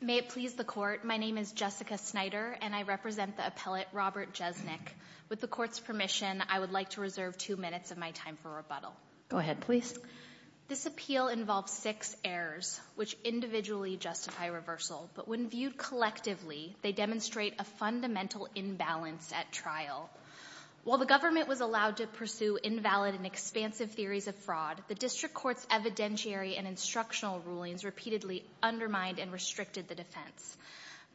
May it please the Court, my name is Jessica Snyder and I represent the appellate Robert Jesenik. With the Court's permission, I would like to reserve two minutes of my time for rebuttal. This appeal involves six errors, which individually justify reversal, but when viewed collectively, they demonstrate a fundamental imbalance at trial. While the government was allowed to pursue invalid and expansive theories of fraud, the District Court's evidentiary and instructional rulings repeatedly undermined and restricted the defense.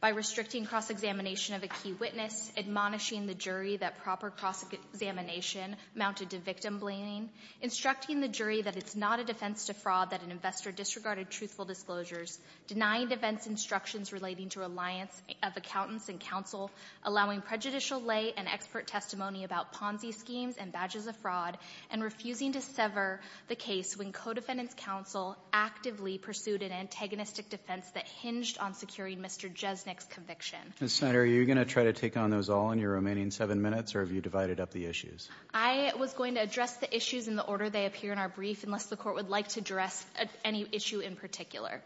By restricting cross-examination of a key witness, admonishing the jury that proper cross-examination amounted to victim blaming, instructing the jury that it's not a defense to fraud that an investor disregarded truthful disclosures, denying defense instructions relating to reliance of accountants in counsel, allowing prejudicial lay and expert testimony about Ponzi schemes and badges of fraud, and refusing to sever the case when co-defendants' counsel actively pursued an antagonistic defense that hinged on securing Mr. Jesenik's conviction. Mr. Snyder, are you going to try to take on those all in your remaining seven minutes or have you divided up the issues? I was going to address the issues in the order they appear in our brief unless the Court would like to address any issue in particular.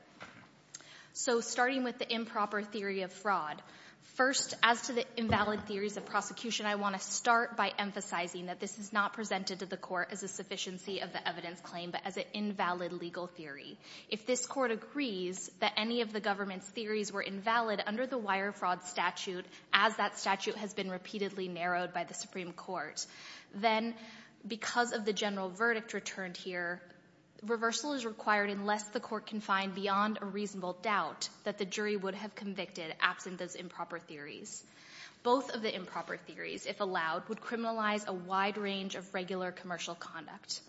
So starting with the improper theory of fraud, first as to the invalid theories of prosecution, I want to start by emphasizing that this is not presented to the Court as a sufficiency of the evidence claim but as an invalid legal theory. If this Court agrees that any of the government's theories were invalid under the Wire Fraud Statute as that statute has been repeatedly narrowed by the Supreme Court, then because of the general verdict returned here, reversal is required unless the Court can find beyond a reasonable doubt that the jury would have convicted absent those improper theories. Both of the improper theories, if allowed, would criminalize a wide range of regular commercial conduct.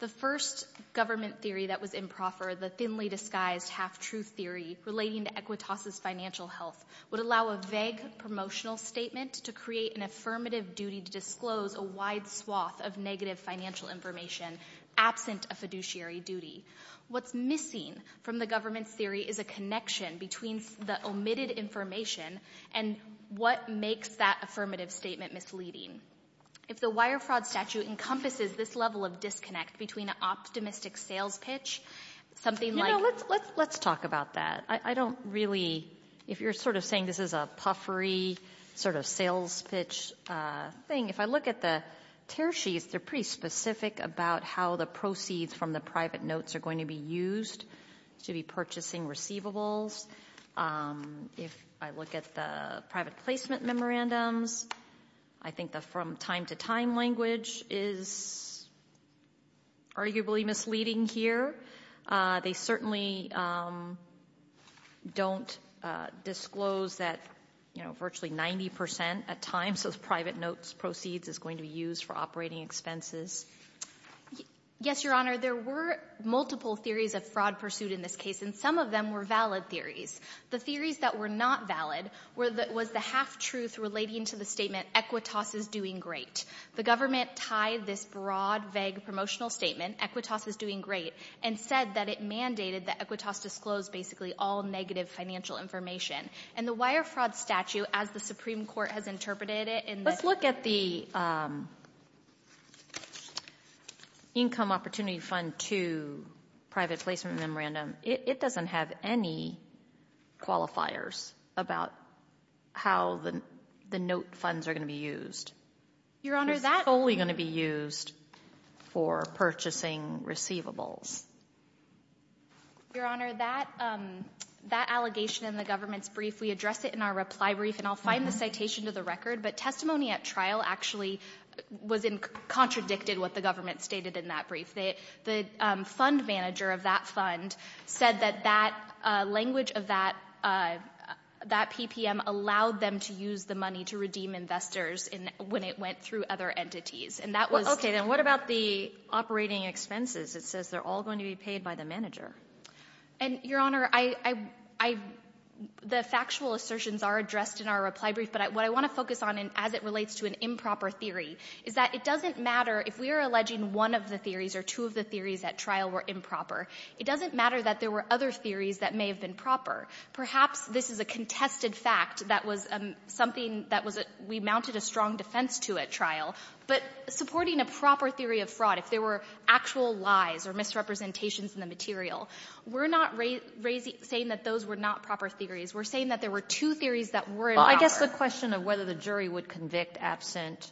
The first government theory that was improper, the thinly disguised half-truth theory relating to Equitas' financial health, would allow a vague promotional statement to create an affirmative duty to disclose a wide swath of negative financial information absent a fiduciary duty. What's missing from the government's theory is a connection between the omitted information and what makes that affirmative statement misleading. If the Wire Fraud Statute encompasses this level of disconnect between an optimistic sales pitch, something like... You know, let's talk about that. I don't really, if you're sort of saying this is a puffery sort of sales pitch thing, if I look at the tear sheets, they're pretty specific about how the proceeds from the private notes are going to be used to be purchasing receivables. If I look at the private placement memorandums, I think the from-time-to-time language is arguably misleading here. They certainly don't disclose that, you know, virtually 90% of the time those private notes proceeds is going to be used for operating expenses. Yes, Your Honor, there were multiple theories of fraud pursued in this case, and some of them were valid theories. The theories that were not valid was the half-truth relating to the statement, Equitas is doing great. The government tied this broad, vague promotional statement, Equitas is doing great, and said that it mandated that Equitas disclose basically all negative financial information. And the Wire Fraud Statute, as the Supreme Court has interpreted it in the... Let's look at the Income Opportunity Fund 2 private placement memorandum. It doesn't have any qualifiers about how the note funds are going to be used. Your Honor, that... Your Honor, that allegation in the government's brief, we addressed it in our reply brief, and I'll find the citation to the record, but testimony at trial actually was in... contradicted what the government stated in that brief. The fund manager of that fund said that that language of that PPM allowed them to use the money to redeem investors when it went through other entities. And that was... Okay. Then what about the operating expenses? It says they're all going to be paid by the manager. And, Your Honor, I, I, I, the factual assertions are addressed in our reply brief, but what I want to focus on as it relates to an improper theory is that it doesn't matter if we are alleging one of the theories or two of the theories at trial were improper. It doesn't matter that there were other theories that may have been proper. Perhaps this is a contested fact that was something that was a, we mounted a strong defense to at trial, but supporting a proper theory of fraud, if there were actual lies or misrepresentations in the material, we're not raising, saying that those were not proper theories. We're saying that there were two theories that were... Well, I guess the question of whether the jury would convict absent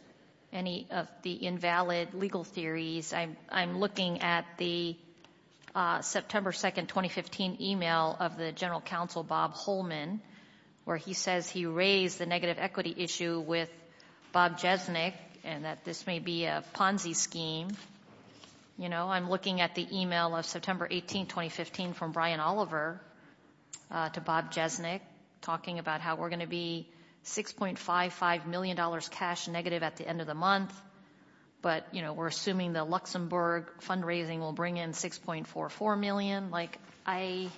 any of the invalid legal theories, I'm, I'm looking at the, uh, September 2nd, 2015 email of the general counsel, Bob Holman, where he says he raised the negative equity issue with Bob Jesnick and that this may be a Ponzi scheme. You know, I'm looking at the email of September 18th, 2015 from Brian Oliver, uh, to Bob Jesnick talking about how we're going to be 6.55 million dollars cash negative at the end of the month, but, you know, we're assuming the Luxembourg fundraising will bring in 6.44 million. Like, I,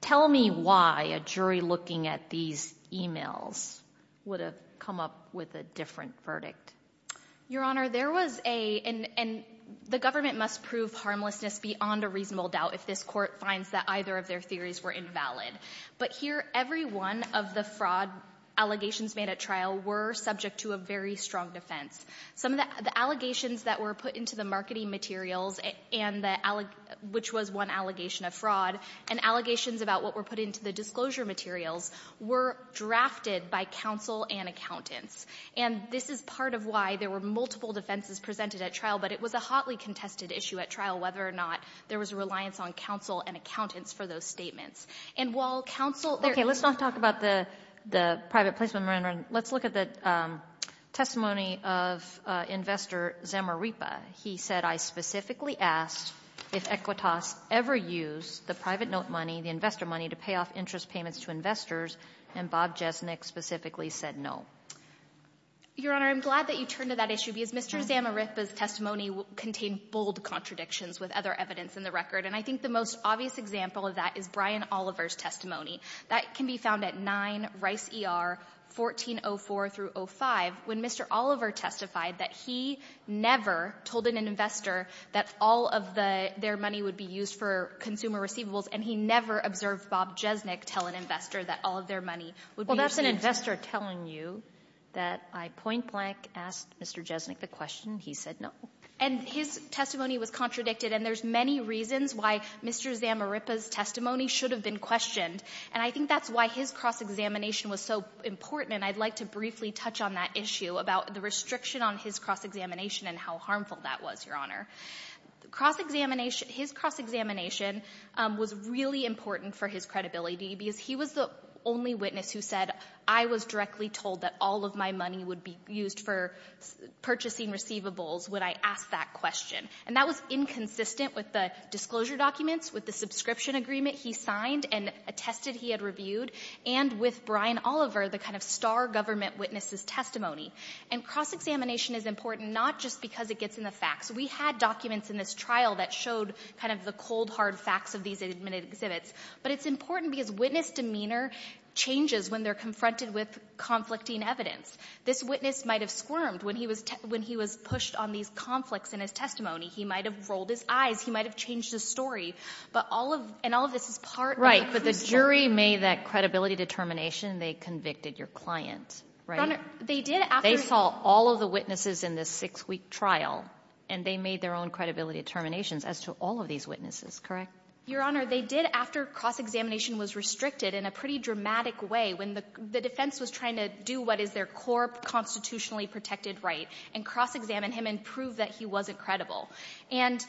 tell me why a jury looking at these emails would have come up with a different verdict. Your Honor, there was a, and, and the government must prove harmlessness beyond a reasonable doubt if this court finds that either of their theories were invalid. But here, every one of the fraud allegations made at trial were subject to a very strong defense. Some of the, the allegations that were put into the marketing materials and the, which was one allegation of fraud, and allegations about what were put into the disclosure materials were drafted by counsel and accountants. And this is part of why there were multiple defenses presented at trial, but it was a hotly contested issue at trial, whether or not there was a reliance on counsel and accountants for those statements. And while counsel... Okay, let's not talk about the, the private placement, Maren, let's look at the, um, testimony of, uh, investor Zamarripa. He said, I specifically asked if Equitas ever used the private note money, the investor money, to pay off interest payments to investors, and Bob Jesnick specifically said no. Your Honor, I'm glad that you turned to that issue because Mr. Zamarripa's testimony contained bold contradictions with other evidence in the record. And I think the most obvious example of that is Brian Oliver's testimony. That can be found at 9 Rice ER, 1404 through 05, when Mr. Oliver testified that he never told an investor that all of the, their money would be used for consumer receivables, and he never observed Bob Jesnick tell an investor that all of their money would be received. Well, that's an investor telling you that I point blank asked Mr. Jesnick the question, he said no. And his testimony was contradicted, and there's many reasons why Mr. Zamarripa's cross-examination was so important, and I'd like to briefly touch on that issue about the restriction on his cross-examination and how harmful that was, Your Honor. Cross-examination, his cross-examination was really important for his credibility because he was the only witness who said I was directly told that all of my money would be used for purchasing receivables when I asked that question. And that was inconsistent with the disclosure documents, with the subscription agreement he signed and attested he had reviewed, and with Brian Oliver, the kind of star government witness's testimony. And cross-examination is important not just because it gets in the facts. We had documents in this trial that showed kind of the cold, hard facts of these admitted exhibits, but it's important because witness demeanor changes when they're confronted with conflicting evidence. This witness might have squirmed when he was, when he was pushed on these conflicts in his testimony. He might have rolled his eyes. He might have changed his story. But all of, and all of this is part. Right, but the jury made that credibility determination. They convicted your client, right? They did after. They saw all of the witnesses in this six-week trial, and they made their own credibility determinations as to all of these witnesses, correct? Your Honor, they did after cross-examination was restricted in a pretty dramatic way, when the defense was trying to do what is their core constitutionally protected right and cross-examine him and prove that he wasn't credible. And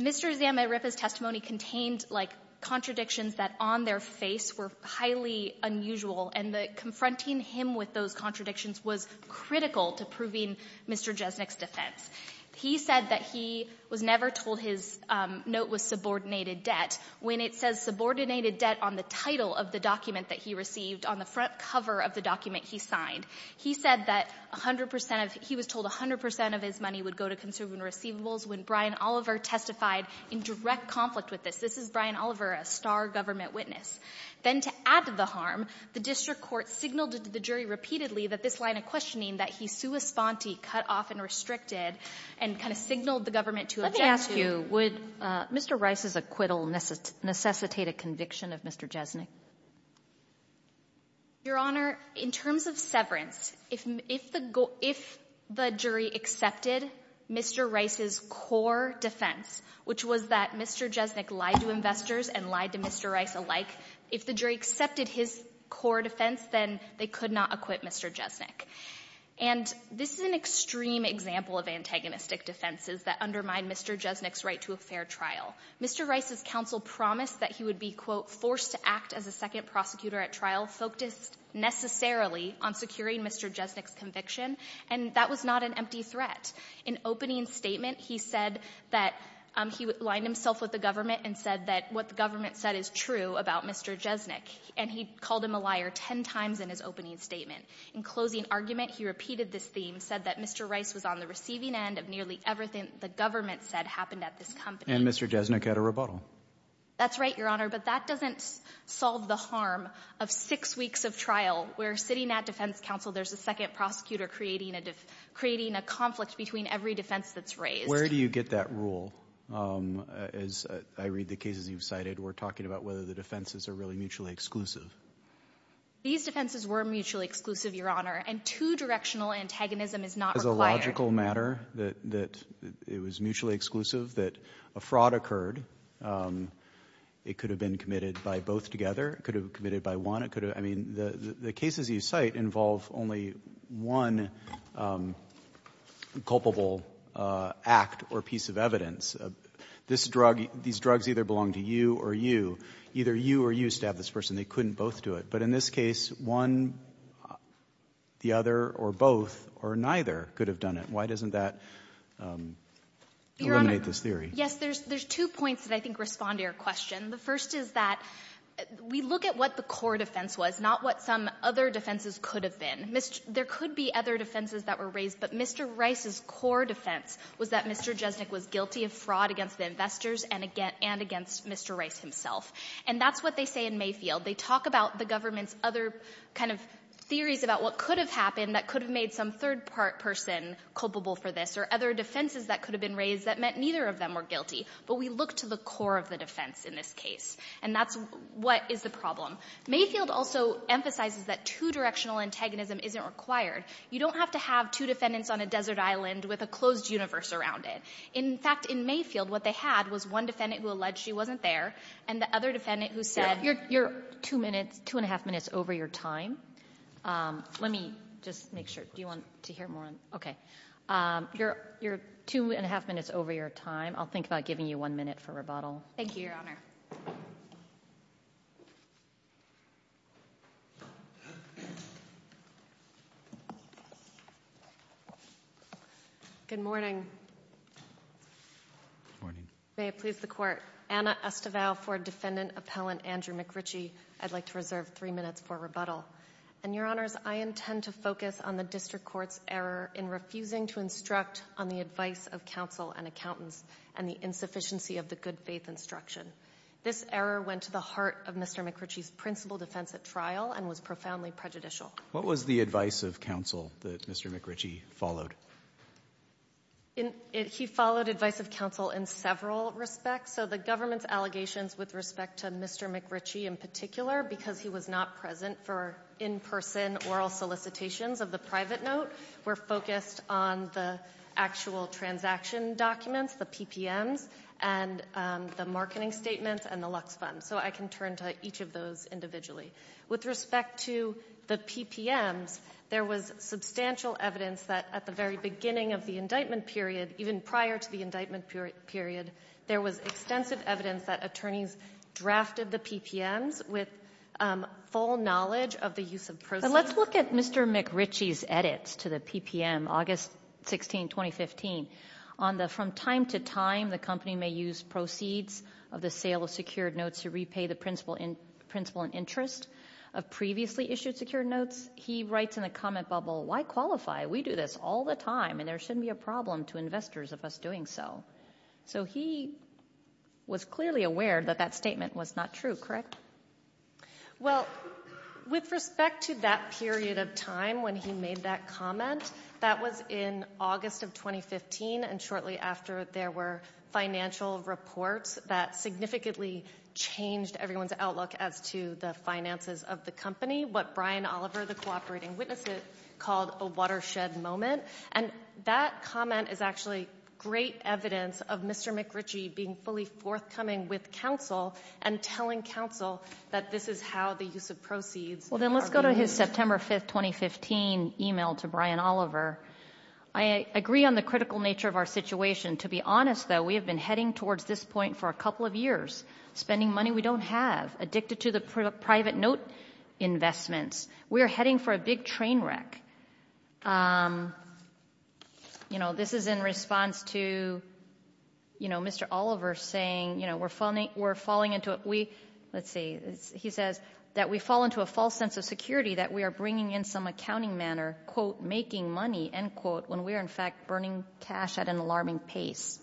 Mr. Zamm and Ripa's testimony contained, like, contradictions that on their face were highly unusual, and confronting him with those contradictions was critical to proving Mr. Jesnick's defense. He said that he was never told his note was subordinated debt. When it says subordinated debt on the title of the document that he received on the front cover of the document he signed, he said that 100 percent of, he was told 100 percent of his money would go to conservative receivables when Brian Oliver testified in direct conflict with this. This is Brian Oliver, a star government witness. Then to add to the harm, the district court signaled to the jury repeatedly that this line of questioning that he sua sponte, cut off and restricted, and kind of signaled the government to object to it. Let me ask you, would Mr. Rice's acquittal necessitate a conviction of Mr. Jesnick? Your Honor, in terms of severance, if the jury accepted Mr. Rice's core defense, which was that Mr. Jesnick lied to investors and lied to Mr. Rice alike, if the jury accepted his core defense, then they could not acquit Mr. Jesnick. And this is an extreme example of antagonistic defenses that undermine Mr. Jesnick's right to a fair trial. Mr. Rice's counsel promised that he would be, quote, forced to act as a second prosecutor at trial, focused necessarily on securing Mr. Jesnick's conviction, and that was not an empty threat. In opening statement, he said that he aligned himself with the government and said that what the government said is true about Mr. Jesnick, and he called him a liar ten times in his opening statement. In closing argument, he repeated this theme, said that Mr. Rice was on the receiving end of nearly everything the government said happened at this company. And Mr. Jesnick had a rebuttal. That's right, Your Honor, but that doesn't solve the harm of six weeks of trial where sitting at defense counsel there's a second prosecutor creating a def — creating a conflict between every defense that's raised. Where do you get that rule? As I read the cases you've cited, we're talking about whether the defenses are really mutually exclusive. These defenses were mutually exclusive, Your Honor, and two-directional antagonism is not required. It's a logical matter that it was mutually exclusive, that a fraud occurred. It could have been committed by both together. It could have been committed by one. I mean, the cases you cite involve only one culpable act or piece of evidence. This drug — these drugs either belong to you or you. Either you or you stabbed this person. They couldn't both do it. But in this case, one, the other, or both, or neither could have done it. Why doesn't that eliminate this theory? Your Honor, yes, there's two points that I think respond to your question. The first is that we look at what the core defense was, not what some other defenses could have been. There could be other defenses that were raised, but Mr. Rice's core defense was that Mr. Jesnick was guilty of fraud against the investors and against Mr. Rice himself. And that's what they say in Mayfield. They talk about the government's other kind of theories about what could have happened that could have made some third-part person culpable for this, or other defenses that could have been raised that meant neither of them were guilty. But we look to the core of the defense in this case, and that's what is the problem. Mayfield also emphasizes that two-directional antagonism isn't required. You don't have to have two defendants on a desert island with a closed universe around it. In fact, in Mayfield, what they had was one defendant who alleged she wasn't there and the other defendant who said... You're two minutes, two and a half minutes over your time. Let me just make sure. Do you want to hear more? Okay. You're two and a half minutes over your time. I'll think about giving you one minute for rebuttal. Thank you, Your Honor. Good morning. Good morning. May it please the Court. Anna Estevao for Defendant Appellant Andrew McRitchie. I'd like to reserve three minutes for rebuttal. And, Your Honors, I intend to focus on the district court's error in refusing to instruct on the advice of counsel and accountants and the insufficiency of the good faith instruction. This error went to the heart of Mr. McRitchie's principal defense at trial and was profoundly prejudicial. What was the advice of counsel that Mr. McRitchie followed? He followed advice of counsel in several respects. So the government's allegations with respect to Mr. McRitchie in particular, because he was not present for in-person oral solicitations of the private note, were focused on the actual transaction documents, the PPMs, and the marketing statements, and the Lux Fund. So I can turn to each of those individually. With respect to the PPMs, there was substantial evidence that at the very beginning of the indictment period, even prior to the indictment period, there was extensive evidence that attorneys drafted the PPMs with full knowledge of the use of proceeds. But let's look at Mr. McRitchie's edits to the PPM, August 16, 2015, on the from time to time the company may use proceeds of the sale of secured notes to repay the principal in interest of previously issued secured notes. He writes in the comment bubble, why qualify? We do this all the time, and there shouldn't be a problem to investors of us doing so. So he was clearly aware that that statement was not true, correct? Well, with respect to that period of time when he made that comment, that was in August of 2015 and shortly after there were financial reports that significantly changed everyone's outlook as to the finances of the company. What Brian Oliver, the cooperating witness, called a watershed moment. And that comment is actually great evidence of Mr. McRitchie being fully forthcoming with counsel and telling counsel that this is how the use of proceeds are being used. Well, then let's go to his September 5, 2015 email to Brian Oliver. I agree on the critical nature of our situation. To be honest, though, we have been heading towards this point for a couple of years, spending money we don't have, addicted to the private note investments. We are heading for a big train wreck. You know, this is in response to, you know, Mr. Oliver saying, you know, we're falling into it. We, let's see, he says that we fall into a false sense of security that we are bringing in some accounting manner, quote, making money, end quote, when we are in fact burning cash at an alarming pace.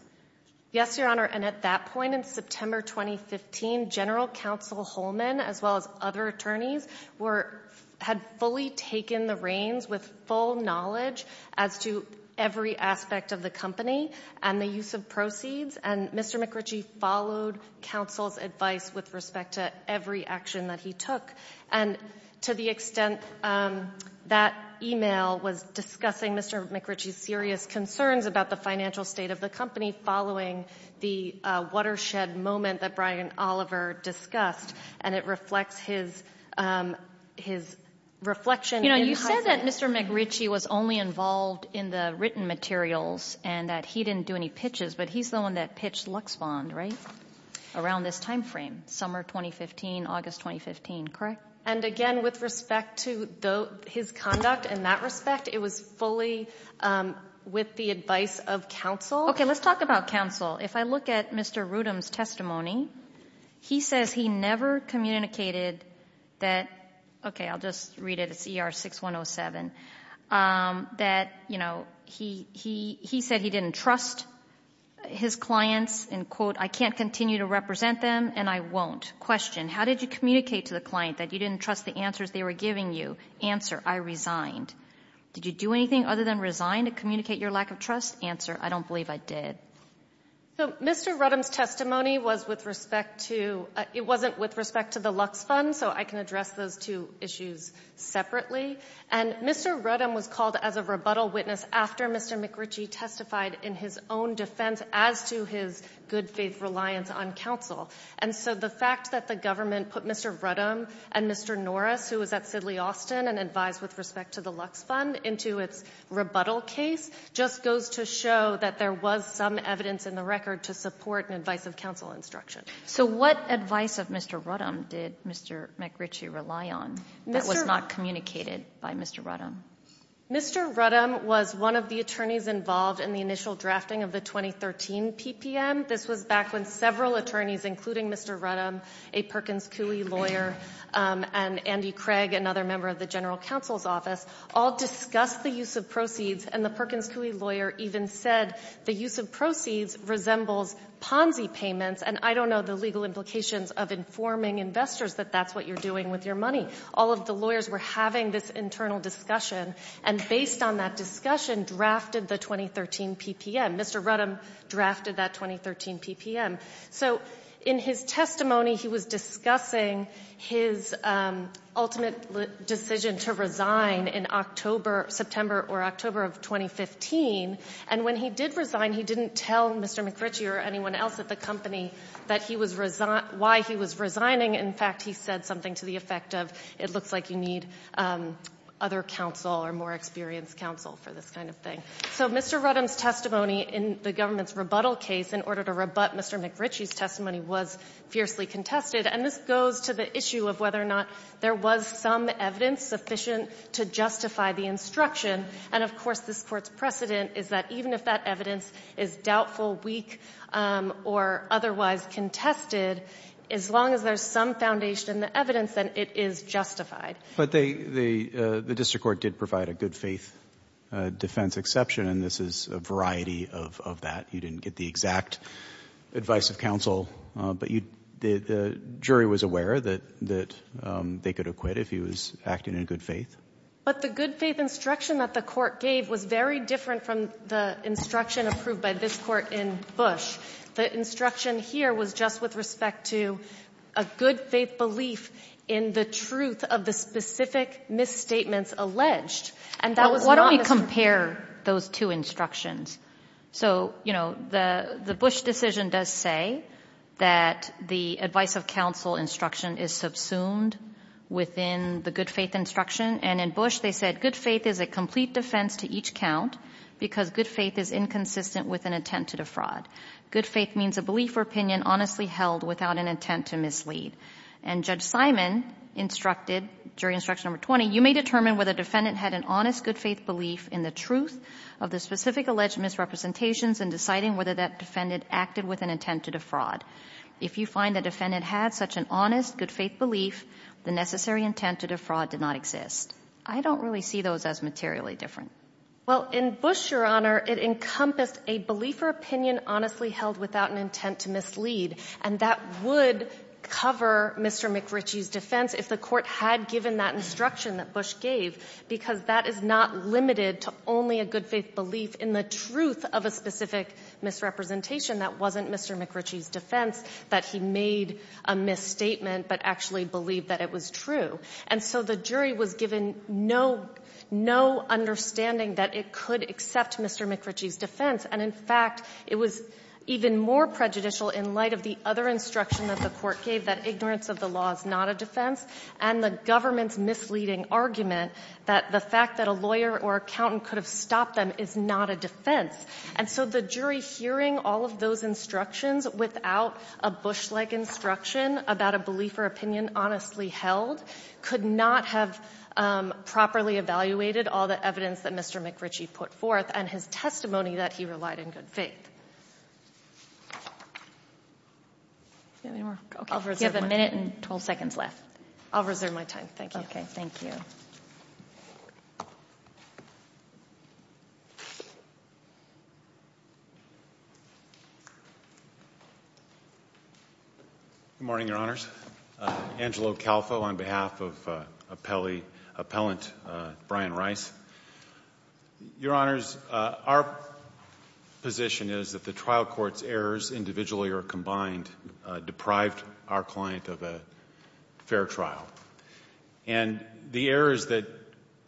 Yes, Your Honor, and at that point in September 2015, General Counsel Holman, as well as other attorneys, were, had fully taken the reins with full knowledge as to every aspect of the company and the use of proceeds. And Mr. McRitchie followed counsel's advice with respect to every action that he took. And to the extent that email was discussing Mr. McRitchie's serious concerns about the financial state of the company following the watershed moment that Brian Oliver discussed, and it reflects his, his reflection. You know, you said that Mr. McRitchie was only involved in the written materials and that he didn't do any pitches, but he's the one that pitched LuxBond, right? Around this time frame, summer 2015, August 2015, correct? And again, with respect to his conduct in that respect, it was fully with the advice of counsel. Okay, let's talk about counsel. If I look at Mr. Rudum's testimony, he says he never communicated that, okay, I'll just read it, it's ER 6107, that, you know, he, he, he said he didn't trust his clients, end quote, I can't continue to represent them and I won't. Question, how did you communicate to the client that you didn't trust the answers they were giving you? Answer, I resigned. Did you do anything other than resign to communicate your lack of trust? Answer, I don't believe I did. So Mr. Rudum's testimony was with respect to, it wasn't with respect to the LuxBond, so I can address those two issues separately. And Mr. Rudum was called as a rebuttal witness after Mr. McRitchie testified in his own defense as to his good faith reliance on counsel. And so the fact that the government put Mr. Rudum and Mr. Norris, who was at Sidley Austin and advised with respect to the LuxBond into its rebuttal case, just goes to show that there was some evidence in the record to support an advice of counsel instruction. So what advice of Mr. Rudum did Mr. McRitchie rely on that was not communicated by Mr. Rudum? Mr. Rudum was one of the attorneys involved in the initial drafting of the 2013 PPM. This was back when several attorneys, including Mr. Rudum, a Perkins Cooley lawyer, and Andy Craig, another member of the general counsel's office, all discussed the use of proceeds. And the Perkins Cooley lawyer even said the use of proceeds resembles Ponzi payments. And I don't know the legal implications of informing investors that that's what you're doing with your money. All of the lawyers were having this internal discussion. And based on that discussion, drafted the 2013 PPM. Mr. Rudum drafted that 2013 PPM. So in his testimony, he was discussing his ultimate decision to resign in September or October of 2015. And when he did resign, he didn't tell Mr. McRitchie or anyone else at the company why he was resigning. In fact, he said something to the effect of, it looks like you need other counsel or more experienced counsel for this kind of thing. So Mr. Rudum's testimony in the government's rebuttal case in order to rebut Mr. McRitchie's testimony was fiercely contested. And this goes to the issue of whether or not there was some evidence sufficient to justify the instruction. And, of course, this Court's precedent is that even if that evidence is doubtful, weak, or otherwise contested, as long as there's some foundation in the evidence, then it is justified. But the district court did provide a good-faith defense exception, and this is a variety of that. You didn't get the exact advice of counsel, but the jury was aware that they could acquit if he was acting in good faith. But the good-faith instruction that the Court gave was very different from the instruction approved by this Court in Bush. The instruction here was just with respect to a good-faith belief in the truth of the specific misstatements alleged. And that was not a... Why don't we compare those two instructions? So, you know, the Bush decision does say that the advice of counsel instruction is subsumed within the good-faith instruction. And in Bush, they said good faith is a complete defense to each count because good faith is inconsistent with an attempt to defraud. Good faith means a belief or opinion honestly held without an intent to mislead. And Judge Simon instructed, jury instruction number 20, you may determine whether a defendant had an honest good-faith belief in the truth of the specific alleged misrepresentations in deciding whether that defendant acted with an intent to defraud. If you find the defendant had such an honest good-faith belief, the necessary intent to defraud did not exist. I don't really see those as materially different. Well, in Bush, Your Honor, it encompassed a belief or opinion honestly held without an intent to mislead. And that would cover Mr. McRitchie's defense if the court had given that instruction that Bush gave, because that is not limited to only a good-faith belief in the truth of a specific misrepresentation. That wasn't Mr. McRitchie's defense that he made a misstatement but actually believed that it was true. And so the jury was given no understanding that it could accept Mr. McRitchie's defense. And in fact, it was even more prejudicial in light of the other instruction that the court gave, that ignorance of the law is not a defense, and the government's misleading argument that the fact that a lawyer or accountant could have stopped them is not a defense. And so the jury hearing all of those instructions without a Bush-like instruction about a belief or opinion honestly held could not have properly evaluated all the evidence that Mr. McRitchie put forth and his testimony that he relied in good faith. Do you have any more? Okay. I'll reserve my time. You have a minute and 12 seconds left. I'll reserve my time. Thank you. Okay. Thank you. Good morning, Your Honors. Angelo Calfo on behalf of appellant Brian Rice. Your Honors, our position is that the trial court's errors individually or combined deprived our client of a fair trial. And the errors that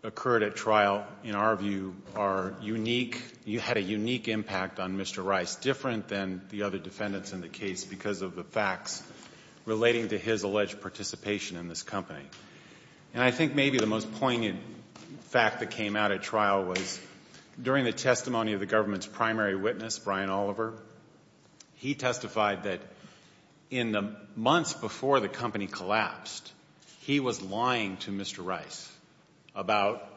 occurred at trial in our view are unique. You had a unique impact on Mr. Rice, different than the other defendants in the case because of the facts relating to his alleged participation in this company. And I think maybe the most poignant fact that came out at trial was during the testimony of the government's primary witness, Brian Oliver. He testified that in the months before the company collapsed, he was lying to Mr. Rice about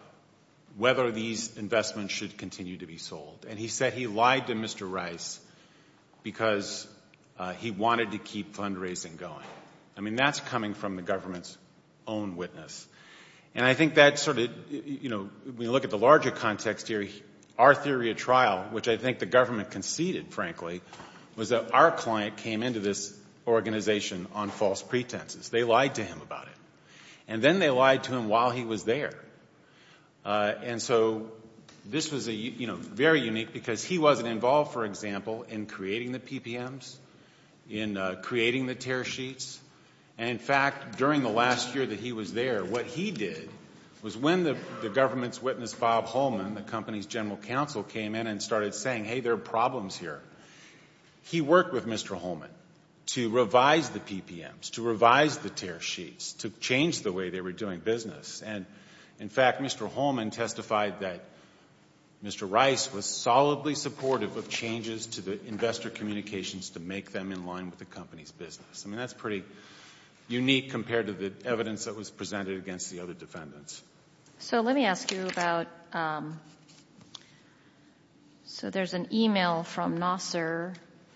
whether these investments should continue to be sold. And he said he lied to Mr. Rice because he wanted to keep fundraising going. I mean, that's coming from the government's own witness. And I think that sort of, you know, we look at the larger context here, our theory at trial, which I think the government conceded, frankly, was that our client came into this organization on false pretenses. They lied to him about it. And then they lied to him while he was there. And so this was, you know, very unique because he wasn't involved, for example, in creating the PPMs, in creating the tear sheets. And in fact, during the last year that he was there, what he did was when the government's witness Bob Holman, the company's general counsel, came in and started saying, hey, there are problems here. He worked with Mr. Holman to revise the PPMs, to revise the tear sheets, to change the way they were doing business. And in fact, Mr. Holman testified that Mr. Rice was solidly supportive of changes to the investor communications to make them in line with the company's business. I mean, that's pretty unique compared to the evidence that was presented against the other defendants. So let me ask you about, so there's an email from Nasser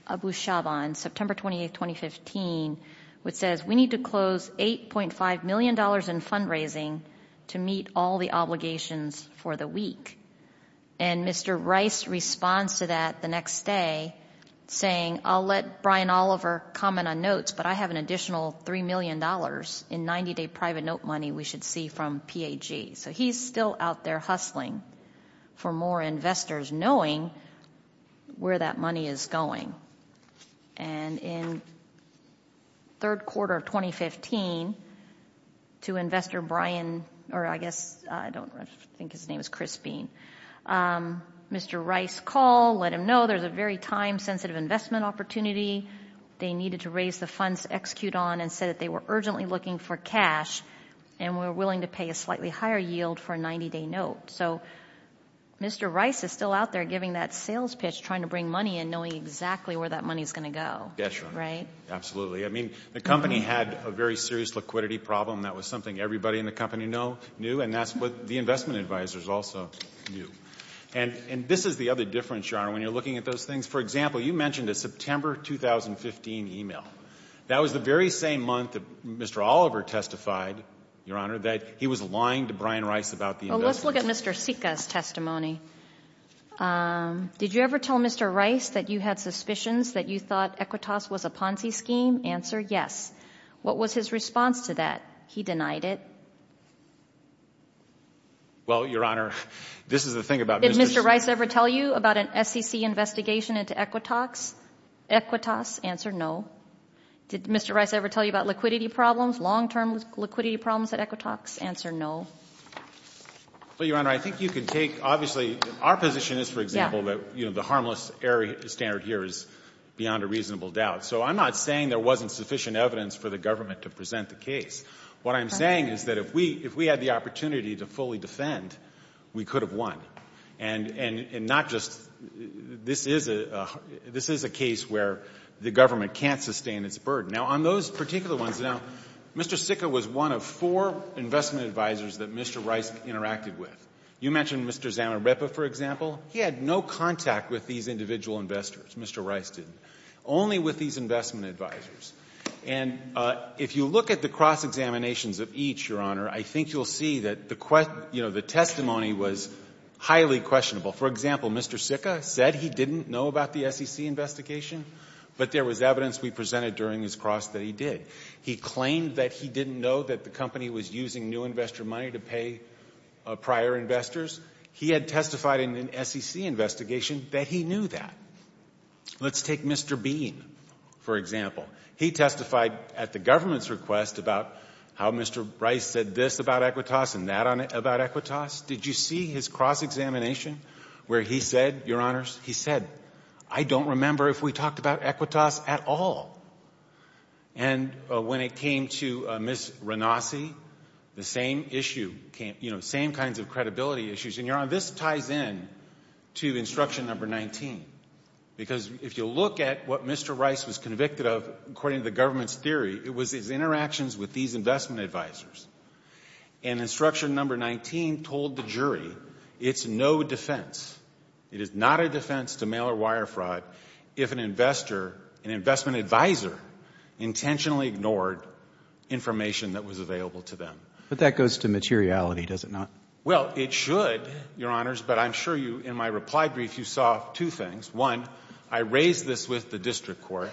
Abu Shaban, September 28, 2015, which says we need to close $8.5 million in fundraising to meet all the obligations for the week. And Mr. Rice responds to that the next day saying, I'll let Brian Oliver comment on notes, but I have an additional $3 million in 90-day private note money we should see from PAG. So he's still out there hustling for more investors knowing where that money is going. And in third quarter of 2015, to investor Brian, or I guess, I don't know, I think his name is Chris Bean, Mr. Rice called, let him know there's a very time-sensitive investment opportunity. They needed to raise the funds to execute on and said that they were urgently looking for cash and were willing to pay a slightly higher yield for a 90-day note. So Mr. Rice is still out there giving that sales pitch, trying to bring money and knowing exactly where that money is going to go, right? Absolutely. I mean, the company had a very serious liquidity problem. That was something everybody in the company knew, and that's what the investment advisors also knew. And this is the other difference, Your Honor, when you're looking at those things. For example, you mentioned a September 2015 email. That was the very same month that Mr. Oliver testified, Your Honor, that he was lying to Brian Rice about the investment. Well, let's look at Mr. Sika's testimony. Did you ever tell Mr. Rice that you had suspicions that you thought Equitas was a Ponzi scheme? Answer, yes. What was his response to that? He denied it. Well, Your Honor, this is the thing about Mr. Sika. Did Mr. Rice ever tell you about an SEC investigation into Equitas? Equitas? Answer, no. Did Mr. Rice ever tell you about liquidity problems, long-term liquidity problems at Equitas? Answer, no. Well, Your Honor, I think you can take, obviously, our position is, for example, that, you know, the harmless error standard here is beyond a reasonable doubt. So I'm not saying there wasn't sufficient evidence for the government to present the case. What I'm saying is that if we had the opportunity to fully defend, we could have won. And not just—this is a case where the government can't sustain its burden. Now, on those particular ones, now, Mr. Sika was one of four investment advisors that Mr. Rice interacted with. You mentioned Mr. Zamarepa, for example. He had no contact with these individual investors. Mr. Rice didn't. Only with these investment advisors. And if you look at the cross-examinations of each, Your Honor, I think you'll see that, you know, the testimony was highly questionable. For example, Mr. Sika said he didn't know about the SEC investigation, but there was evidence we presented during his cross that he did. He claimed that he didn't know that the company was using new investor money to pay prior investors. He had testified in an SEC investigation that he knew that. Let's take Mr. Bean, for example. He testified at the government's request about how Mr. Rice said this about Equitas and that about Equitas. Did you see his cross-examination where he said, Your Honors, he said, I don't remember if we talked about Equitas at all. And when it came to Ms. Ranasi, the same issue came—you know, same kinds of credibility issues. And, Your Honor, this ties in to instruction number 19. Because if you look at what Mr. Rice was convicted of, according to the government's theory, it was his interactions with these investment advisors. And instruction number 19 told the jury, it's no defense. It is not a defense to mail-or-wire fraud if an investor, an investment advisor, intentionally ignored information that was available to them. But that goes to materiality, does it not? Well, it should, Your Honors. But I'm sure you, in my reply brief, you saw two things. One, I raised this with the district court,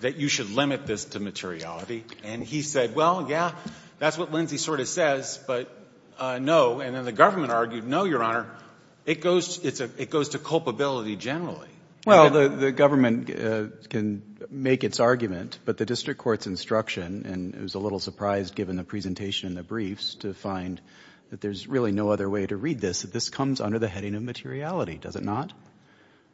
that you should limit this to materiality. And he said, well, yeah, that's what Lindsey sort of says, but no. And then the government argued, no, Your Honor, it goes to culpability generally. Well, the government can make its argument, but the district court's instruction, and it was a little surprised, given the presentation and the briefs, to find that there's really no other way to read this, that this comes under the heading of materiality, does it not?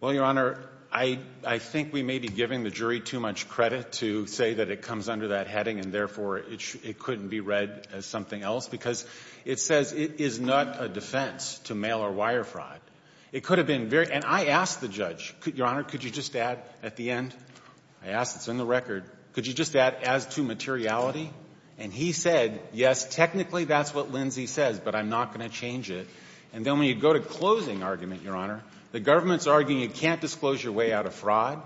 Well, Your Honor, I think we may be giving the jury too much credit to say that it comes under that heading, and therefore, it couldn't be read as something else. Because it says it is not a defense to mail-or-wire fraud. It could have been very, and I asked the judge, Your Honor, could you just add at the end, I asked, it's in the record, could you just add as to materiality? And he said, yes, technically, that's what Lindsey says, but I'm not going to change it. And then when you go to closing argument, Your Honor, the government's arguing you can't disclose your way out of fraud.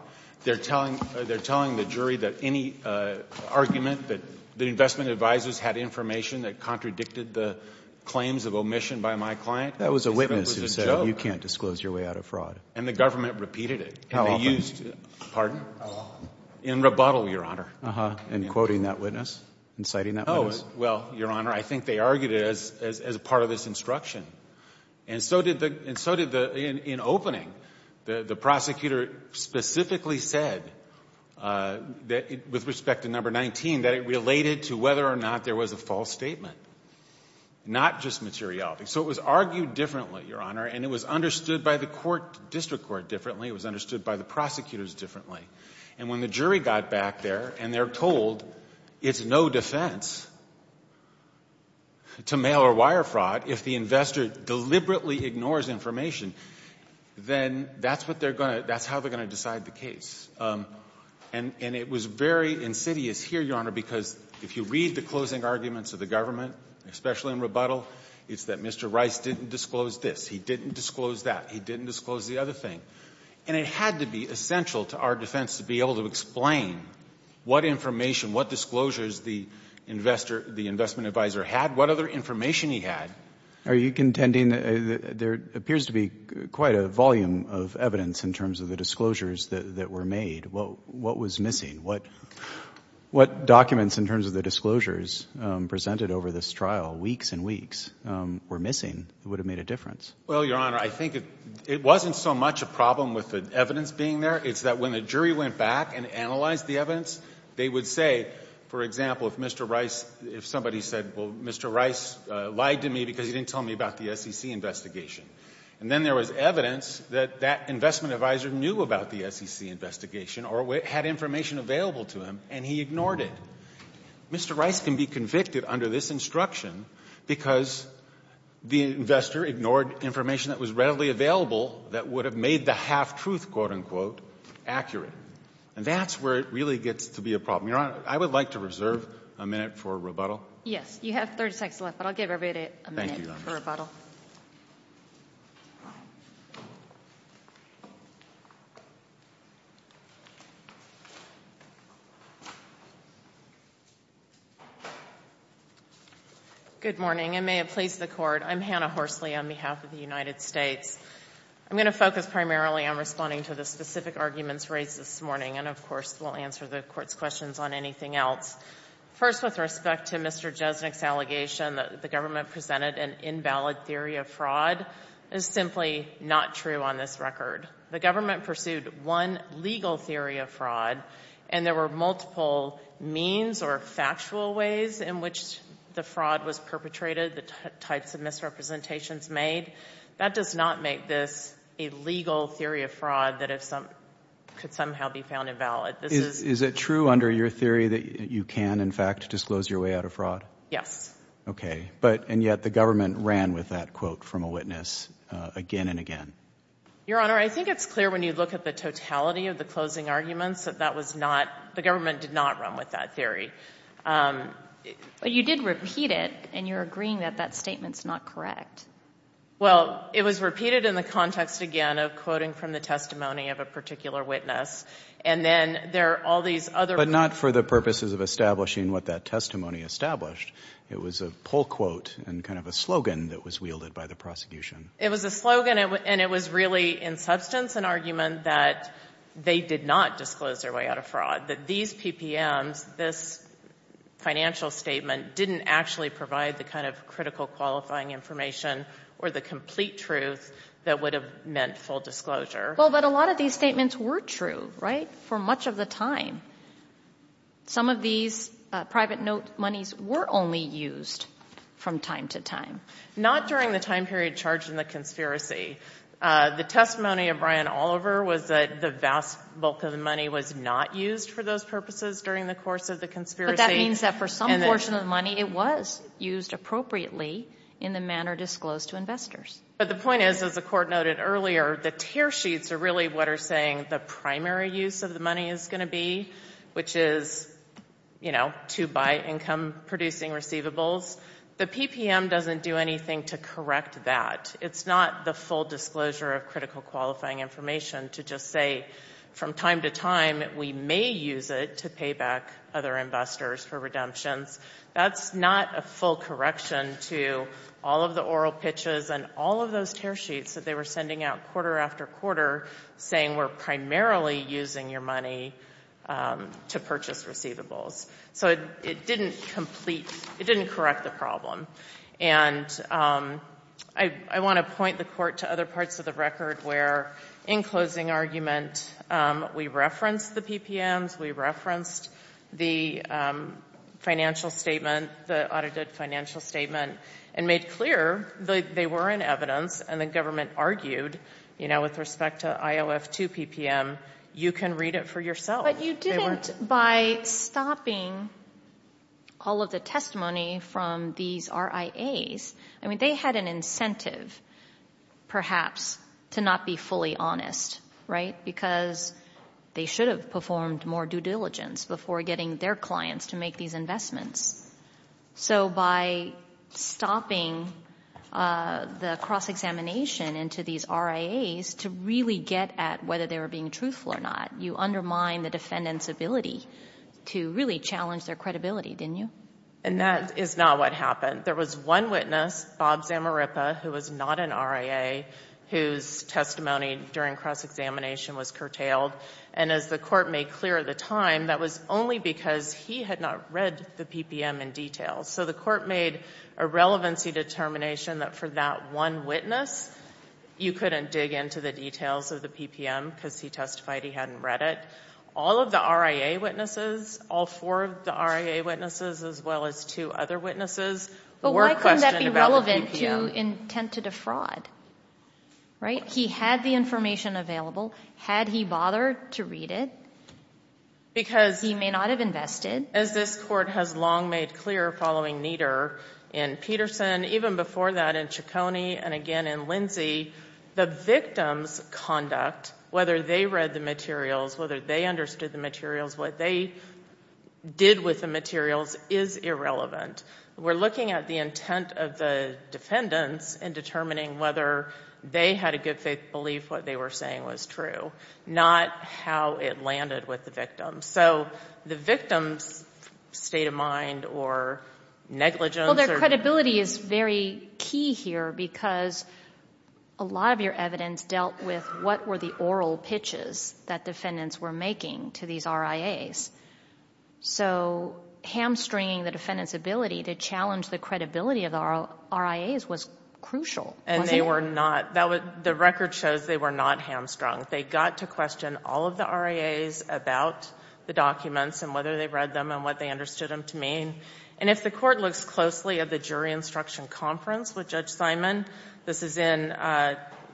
They're telling the jury that any argument that the investment advisors had information that contradicted the claims of omission by my client. That was a witness who said you can't disclose your way out of fraud. And the government repeated it. How often? Pardon? In rebuttal, Your Honor. Uh-huh. And quoting that witness? And citing that witness? Well, Your Honor, I think they argued it as part of this instruction. And so did the, in opening, the prosecutor specifically said, with respect to number 19, that it related to whether or not there was a false statement. Not just materiality. So it was argued differently, Your Honor, and it was understood by the court, it was understood by the prosecutors differently. And when the jury got back there and they're told it's no defense to mail or wire fraud if the investor deliberately ignores information, then that's what they're going to, that's how they're going to decide the case. And it was very insidious here, Your Honor, because if you read the closing arguments of the government, especially in rebuttal, it's that Mr. Rice didn't disclose this. He didn't disclose that. He didn't disclose the other thing. And it had to be essential to our defense to be able to explain what information, what disclosures the investor, the investment advisor had, what other information he had. Are you contending that there appears to be quite a volume of evidence in terms of the disclosures that were made? What was missing? What documents in terms of the disclosures presented over this trial weeks and weeks were missing that would have made a difference? Well, Your Honor, I think it wasn't so much a problem with the evidence being there. It's that when the jury went back and analyzed the evidence, they would say, for example, if Mr. Rice, if somebody said, well, Mr. Rice lied to me because he didn't tell me about the SEC investigation. And then there was evidence that that investment advisor knew about the SEC investigation or had information available to him and he ignored it. Mr. Rice can be convicted under this instruction because the investor ignored information that was readily available that would have made the half-truth, quote, unquote, accurate. And that's where it really gets to be a problem. Your Honor, I would like to reserve a minute for rebuttal. Yes. You have 30 seconds left, but I'll give everybody a minute for rebuttal. Good morning, and may it please the Court. I'm Hannah Horsley on behalf of the United States. I'm going to focus primarily on responding to the specific arguments raised this morning. And, of course, we'll answer the Court's questions on anything else. First, with respect to Mr. Jesnick's allegation that the government presented an invalid theory of fraud is simply not true on this record. The government pursued one legal theory of fraud, and there were multiple means or factual ways in which the fraud was perpetrated, the types of misrepresentations made. That does not make this a legal theory of fraud that could somehow be found invalid. Is it true under your theory that you can, in fact, disclose your way out of fraud? Yes. Okay. But, and yet, the government ran with that quote from a witness again and again. Your Honor, I think it's clear when you look at the totality of the closing arguments that that was not, the government did not run with that theory. But you did repeat it, and you're agreeing that that statement's not correct. Well, it was repeated in the context, again, of quoting from the testimony of a particular witness. And then there are all these other. But not for the purposes of establishing what that testimony established. It was a pull quote and kind of a slogan that was wielded by the prosecution. It was a slogan, and it was really, in substance, an argument that they did not disclose their way out of fraud. That these PPMs, this financial statement, didn't actually provide the kind of critical, qualifying information or the complete truth that would have meant full disclosure. Well, but a lot of these statements were true, right, for much of the time. Some of these private note monies were only used from time to time. Not during the time period charged in the conspiracy. The testimony of Brian Oliver was that the vast bulk of the money was not used for those purposes during the course of the conspiracy. But that means that for some portion of the money, it was used appropriately in the manner disclosed to investors. But the point is, as the court noted earlier, the tear sheets are really what are saying the primary use of the money is going to be, which is, you know, to buy income-producing receivables. The PPM doesn't do anything to correct that. It's not the full disclosure of critical, qualifying information to just say, from time to time, we may use it to pay back other investors for redemptions. That's not a full correction to all of the oral pitches and all of those tear sheets that they were sending out quarter after quarter, saying we're primarily using your money to purchase receivables. So it didn't complete, it didn't correct the problem. And I want to point the court to other parts of the record where, in closing argument, we referenced the PPMs, we referenced the financial statement, the audited financial statement, and made clear that they were in evidence. And the government argued, you know, with respect to IOF2 PPM, you can read it for yourself. But you didn't, by stopping all of the testimony from these RIAs, I mean, they had an incentive, perhaps, to not be fully honest, right? Because they should have performed more due diligence before getting their clients to make these investments. So by stopping the cross-examination into these RIAs to really get at whether they were being truthful or not, you undermine the defendant's ability to really challenge their credibility, didn't you? And that is not what happened. There was one witness, Bob Zamarippa, who was not an RIA, whose testimony during cross-examination was curtailed. And as the court made clear at the time, that was only because he had not read the PPM in detail. So the court made a relevancy determination that for that one witness, you couldn't dig into the details of the PPM because he testified he hadn't read it. All of the RIA witnesses, all four of the RIA witnesses, as well as two other witnesses, were questioned about the PPM. But why couldn't that be relevant to intent to defraud, right? He had the information available. Had he bothered to read it, he may not have invested. As this court has long made clear following Nieder in Peterson, even before that in Ciccone, and again in Lindsey, the victim's conduct, whether they read the materials, whether they understood the materials, what they did with the materials, is irrelevant. We're looking at the intent of the defendants in determining whether they had a good faith belief what they were saying was true, not how it landed with the victim. So the victim's state of mind or negligence or... Well, their credibility is very key here because a lot of your evidence dealt with what were the oral pitches that defendants were making to these RIAs. So hamstringing the defendant's ability to challenge the credibility of the RIAs was crucial, wasn't it? And they were not. The record shows they were not hamstrung. They got to question all of the RIAs about the documents and whether they read them and what they understood them to mean. And if the court looks closely at the jury instruction conference with Judge Simon, this is in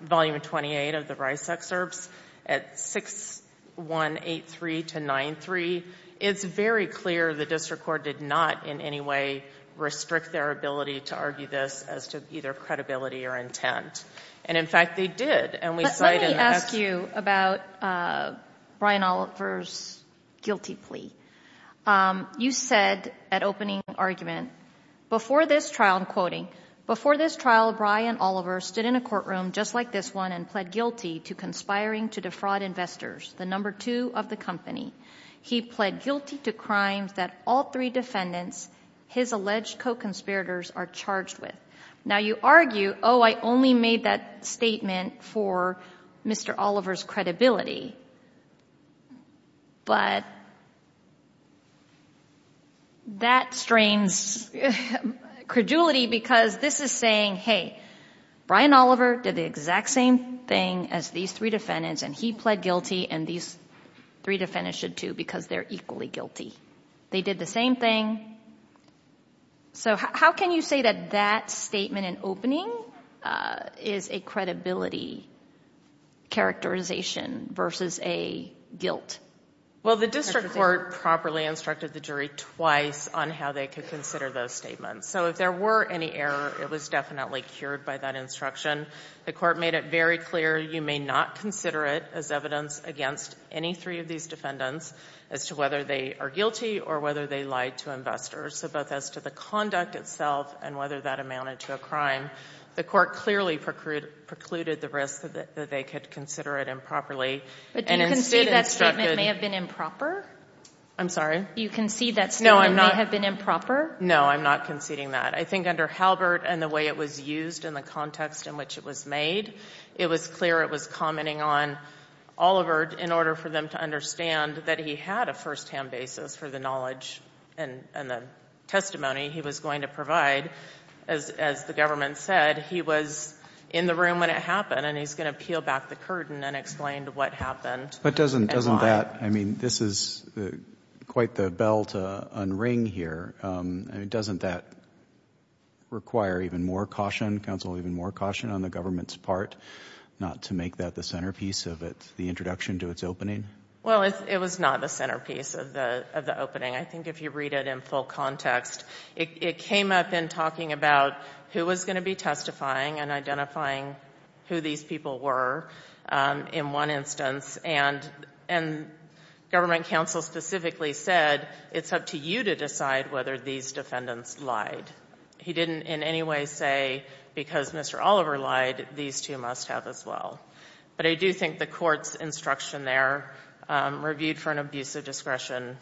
Volume 28 of the Rice Excerpts at 6183-93, it's very clear the district court did not in any way restrict their ability to argue this as to either credibility or intent. And in fact, they did. But let me ask you about Brian Oliver's guilty plea. You said at opening argument, before this trial, I'm quoting, before this trial, Brian Oliver stood in a courtroom just like this one and pled guilty to conspiring to defraud investors, the number two of the company. He pled guilty to crimes that all three defendants, his alleged co-conspirators, are charged with. Now, you argue, oh, I only made that statement for Mr. Oliver's credibility. But that strains credulity because this is saying, hey, Brian Oliver did the exact same thing as these three defendants, and he pled guilty, and these three defendants should, too, because they're equally guilty. They did the same thing. So how can you say that that statement in opening is a credibility characterization versus a guilt characterization? Well, the district court properly instructed the jury twice on how they could consider those statements. So if there were any error, it was definitely cured by that instruction. The court made it very clear you may not consider it as evidence against any three of these defendants as to whether they are guilty or whether they lied to investors, so both as to the conduct itself and whether that amounted to a crime. The court clearly precluded the risk that they could consider it improperly. But do you concede that statement may have been improper? I'm sorry? Do you concede that statement may have been improper? No, I'm not conceding that. I think under Halbert and the way it was used and the context in which it was made, it was clear it was commenting on Oliver in order for them to understand that he had a firsthand basis for the knowledge and the testimony he was going to provide. As the government said, he was in the room when it happened, and he's going to peel back the curtain and explain what happened. But doesn't that, I mean, this is quite the bell to unring here. Doesn't that require even more caution, counsel, even more caution on the government's part not to make that the centerpiece of the introduction to its opening? Well, it was not the centerpiece of the opening. I think if you read it in full context, it came up in talking about who was going to be testifying and identifying who these people were in one instance. And government counsel specifically said, it's up to you to decide whether these defendants lied. He didn't in any way say because Mr. Oliver lied, these two must have as well. But I do think the court's instruction there, reviewed for an abuse of discretion,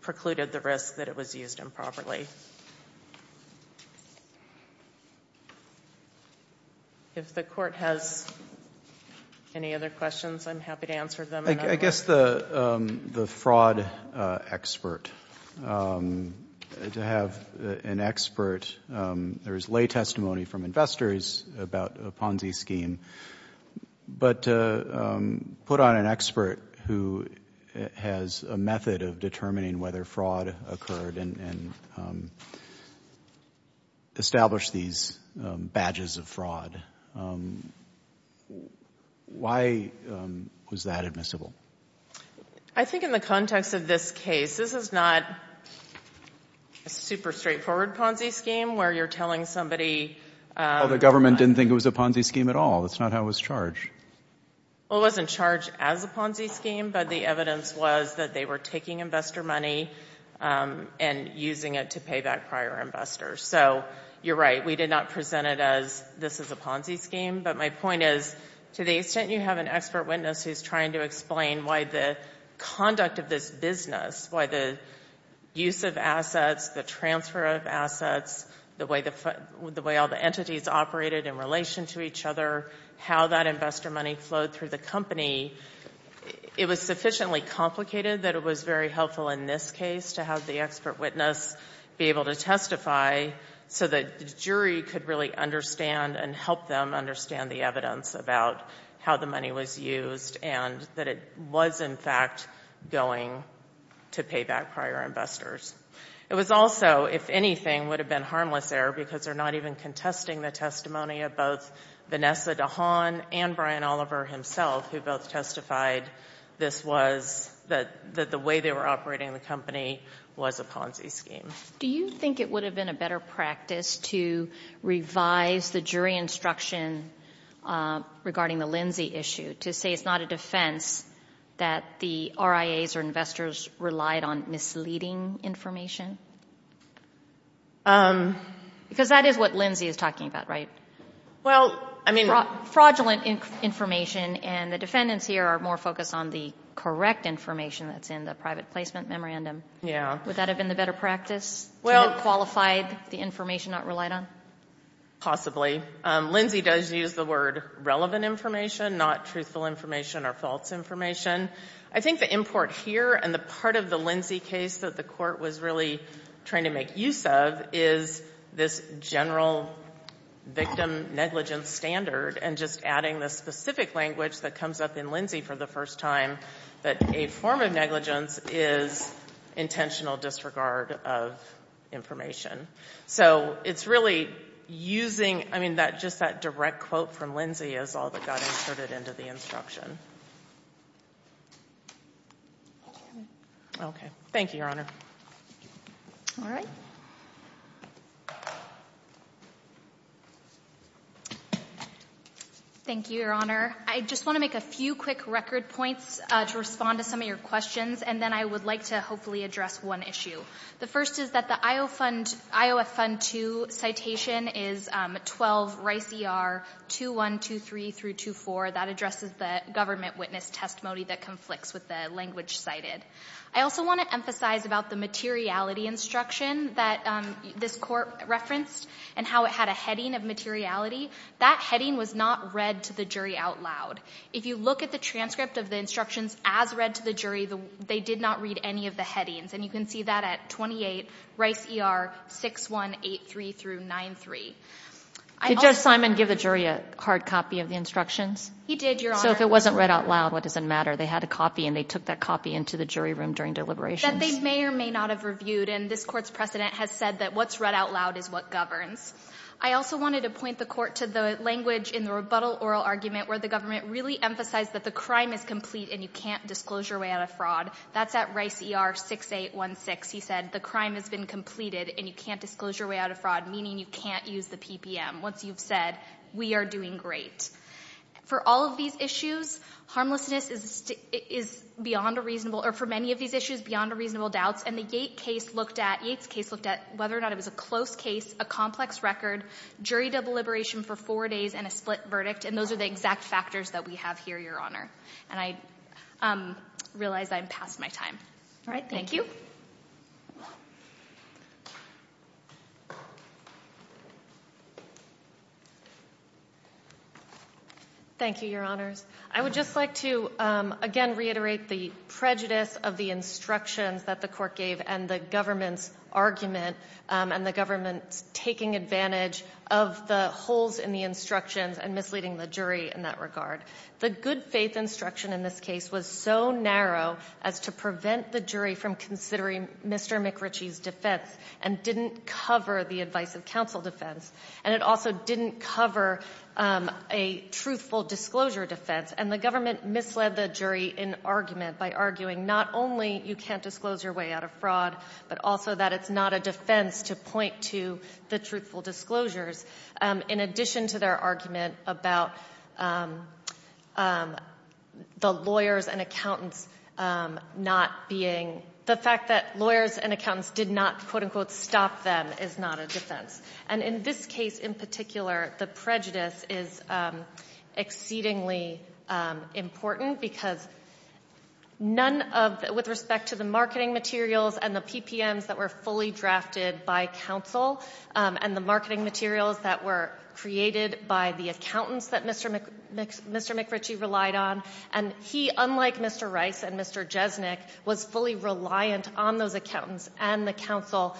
precluded the risk that it was used improperly. If the court has any other questions, I'm happy to answer them. I guess the fraud expert, to have an expert, there is lay testimony from investors about a Ponzi scheme. But to put on an expert who has a method of determining whether fraud occurred and established these badges of fraud, why was that admissible? I think in the context of this case, this is not a super straightforward Ponzi scheme where you're telling somebody— Well, the government didn't think it was a Ponzi scheme at all. That's not how it was charged. Well, it wasn't charged as a Ponzi scheme, but the evidence was that they were taking investor money and using it to pay back prior investors. So you're right, we did not present it as this is a Ponzi scheme. But my point is, to the extent you have an expert witness who's trying to explain why the conduct of this business, why the use of assets, the transfer of assets, the way all the entities operated in relation to each other, how that investor money flowed through the company, it was sufficiently complicated that it was very helpful in this case to have the expert witness be able to testify so that the jury could really understand and help them understand the evidence about how the money was used and that it was, in fact, going to pay back prior investors. It was also, if anything, would have been harmless error because they're not even contesting the testimony of both Vanessa DeHaan and Brian Oliver himself, who both testified this was— that the way they were operating the company was a Ponzi scheme. Do you think it would have been a better practice to revise the jury instruction regarding the Lindsay issue, to say it's not a defense that the RIAs or investors relied on misleading information? Because that is what Lindsay is talking about, right? Well, I mean— Fraudulent information, and the defendants here are more focused on the correct information that's in the private placement memorandum. Yeah. Would that have been the better practice to have qualified the information not relied on? Possibly. Lindsay does use the word relevant information, not truthful information or false information. I think the import here and the part of the Lindsay case that the Court was really trying to make use of is this general victim negligence standard and just adding the specific language that comes up in Lindsay for the first time, that a form of negligence is intentional disregard of information. So it's really using—I mean, just that direct quote from Lindsay is all that got inserted into the instruction. Okay. Thank you, Your Honor. All right. Thank you, Your Honor. I just want to make a few quick record points to respond to some of your questions, and then I would like to hopefully address one issue. The first is that the IOF Fund 2 citation is 12 Rice ER 2123-24. That addresses the government witness testimony that conflicts with the language cited. I also want to emphasize about the materiality instruction that this Court referenced and how it had a heading of materiality. That heading was not read to the jury out loud. If you look at the transcript of the instructions as read to the jury, they did not read any of the headings, and you can see that at 28 Rice ER 6183-93. Did Judge Simon give the jury a hard copy of the instructions? He did, Your Honor. So if it wasn't read out loud, what does it matter? They had a copy and they took that copy into the jury room during deliberations. That they may or may not have reviewed, and this Court's precedent has said that what's read out loud is what governs. I also wanted to point the Court to the language in the rebuttal oral argument where the government really emphasized that the crime is complete and you can't disclose your way out of fraud. That's at Rice ER 6816. He said the crime has been completed and you can't disclose your way out of fraud, meaning you can't use the PPM. Once you've said, we are doing great. For all of these issues, harmlessness is beyond a reasonable, or for many of these issues, beyond a reasonable doubt. And the Yates case looked at, Yates case looked at whether or not it was a close case, a complex record, jury deliberation for four days, and a split verdict. And those are the exact factors that we have here, Your Honor. And I realize I'm past my time. All right, thank you. Thank you, Your Honors. I would just like to, again, reiterate the prejudice of the instructions that the Court gave and the government's argument. And the government's taking advantage of the holes in the instructions and misleading the jury in that regard. The good faith instruction in this case was so narrow as to prevent the jury from considering Mr. McRitchie's defense and didn't cover the advice of counsel defense. And it also didn't cover a truthful disclosure defense. And the government misled the jury in argument by arguing not only you can't disclose your way out of fraud, but also that it's not a defense to point to the truthful disclosures. In addition to their argument about the lawyers and accountants not being, the fact that lawyers and accountants did not, quote unquote, stop them is not a defense. And in this case in particular, the prejudice is exceedingly important because none of, with respect to the marketing materials and the PPMs that were fully drafted by counsel and the marketing materials that were created by the accountants that Mr. McRitchie relied on, and he, unlike Mr. Rice and Mr. Jesnick, was fully reliant on those accountants and the counsel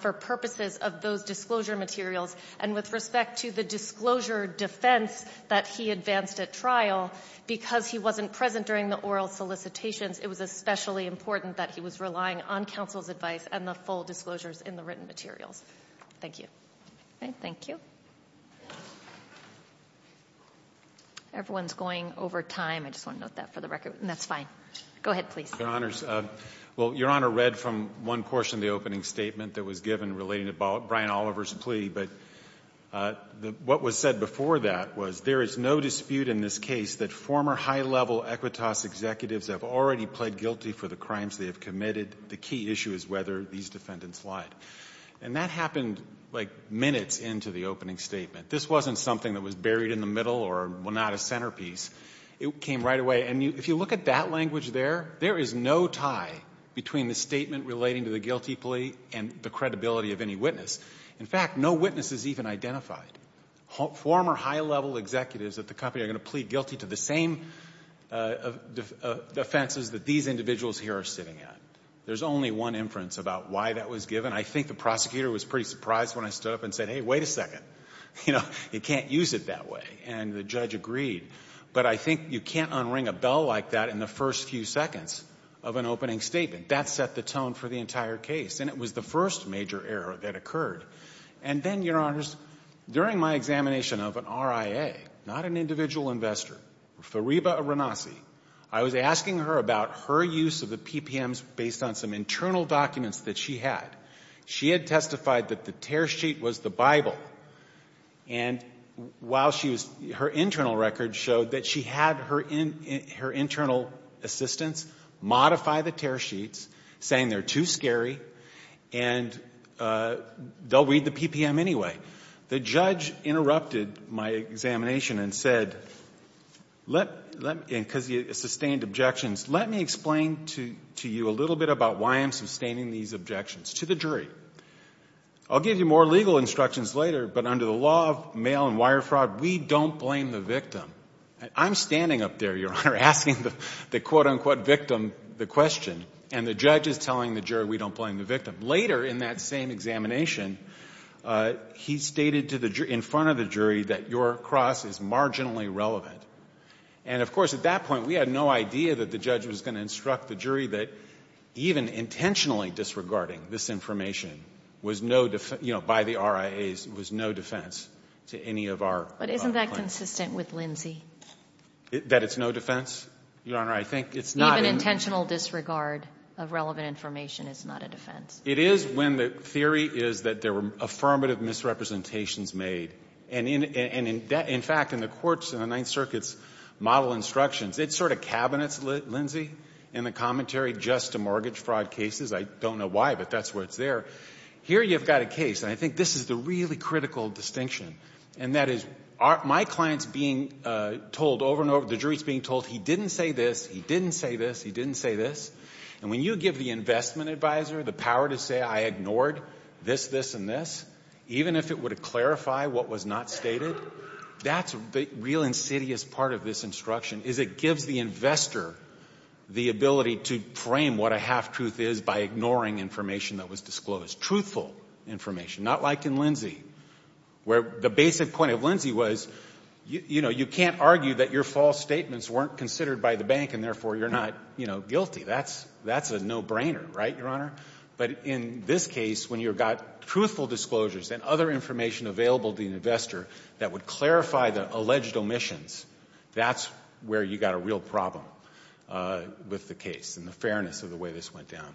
for purposes of those disclosure materials. And with respect to the disclosure defense that he advanced at trial, because he wasn't present during the oral solicitations, it was especially important that he was relying on counsel's advice and the full disclosures in the written materials. Thank you. All right, thank you. Everyone's going over time. I just want to note that for the record. And that's fine. Go ahead, please. Your Honors, well, Your Honor read from one portion of the opening statement that was given relating to Brian Oliver's plea. But what was said before that was there is no dispute in this case that former high-level Equitas executives have already pled guilty for the crimes they have committed. The key issue is whether these defendants lied. And that happened, like, minutes into the opening statement. This wasn't something that was buried in the middle or, well, not a centerpiece. It came right away. And if you look at that language there, there is no tie between the statement relating to the guilty plea and the credibility of any witness. In fact, no witness is even identified. Former high-level executives at the company are going to plead guilty to the same offenses that these individuals here are sitting at. There's only one inference about why that was given. I think the prosecutor was pretty surprised when I stood up and said, hey, wait a second. You know, you can't use it that way. And the judge agreed. But I think you can't unring a bell like that in the first few seconds of an opening statement. That set the tone for the entire case. And it was the first major error that occurred. And then, Your Honors, during my examination of an RIA, not an individual investor, Fariba Aranasi, I was asking her about her use of the PPMs based on some internal documents that she had. She had testified that the tear sheet was the Bible. And while she was, her internal records showed that she had her internal assistants modify the tear sheets, saying they're too scary, and they'll read the PPM anyway. The judge interrupted my examination and said, because he sustained objections, let me explain to you a little bit about why I'm sustaining these objections to the jury. I'll give you more legal instructions later, but under the law of mail and wire fraud, we don't blame the victim. I'm standing up there, Your Honor, asking the quote-unquote victim the question. And the judge is telling the jury we don't blame the victim. Later in that same examination, he stated to the jury, in front of the jury, that your cross is marginally relevant. And, of course, at that point, we had no idea that the judge was going to instruct the jury that even intentionally disregarding this information was no, you know, by the RIAs, was no defense to any of our claims. But isn't that consistent with Lindsay? That it's no defense? Your Honor, I think it's not. Even intentional disregard of relevant information is not a defense. It is when the theory is that there were affirmative misrepresentations made. And in fact, in the courts in the Ninth Circuit's model instructions, it sort of cabinets, Lindsay, in the commentary just to mortgage fraud cases. I don't know why, but that's where it's there. Here you've got a case, and I think this is the really critical distinction. And that is, my client's being told over and over, the jury's being told, he didn't say this, he didn't say this, he didn't say this. And when you give the investment advisor the power to say, I ignored this, this, and this, even if it were to clarify what was not stated, that's the real insidious part of this instruction, is it gives the investor the ability to frame what a half-truth is by ignoring information that was disclosed. Truthful information, not like in Lindsay, where the basic point of Lindsay was, you know, you can't argue that your false statements weren't considered by the bank, and therefore, you're not, you know, guilty. That's a no-brainer, right, Your Honor? But in this case, when you've got truthful disclosures and other information available to the investor that would clarify the alleged omissions, that's where you've got a real problem with the case, and the fairness of the way this went down.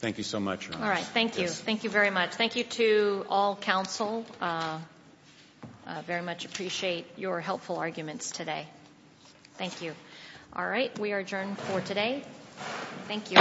Thank you so much, Your Honor. All right. Thank you. Thank you very much. Thank you to all counsel. Very much appreciate your helpful arguments today. Thank you. All right. We are adjourned for today. Thank you.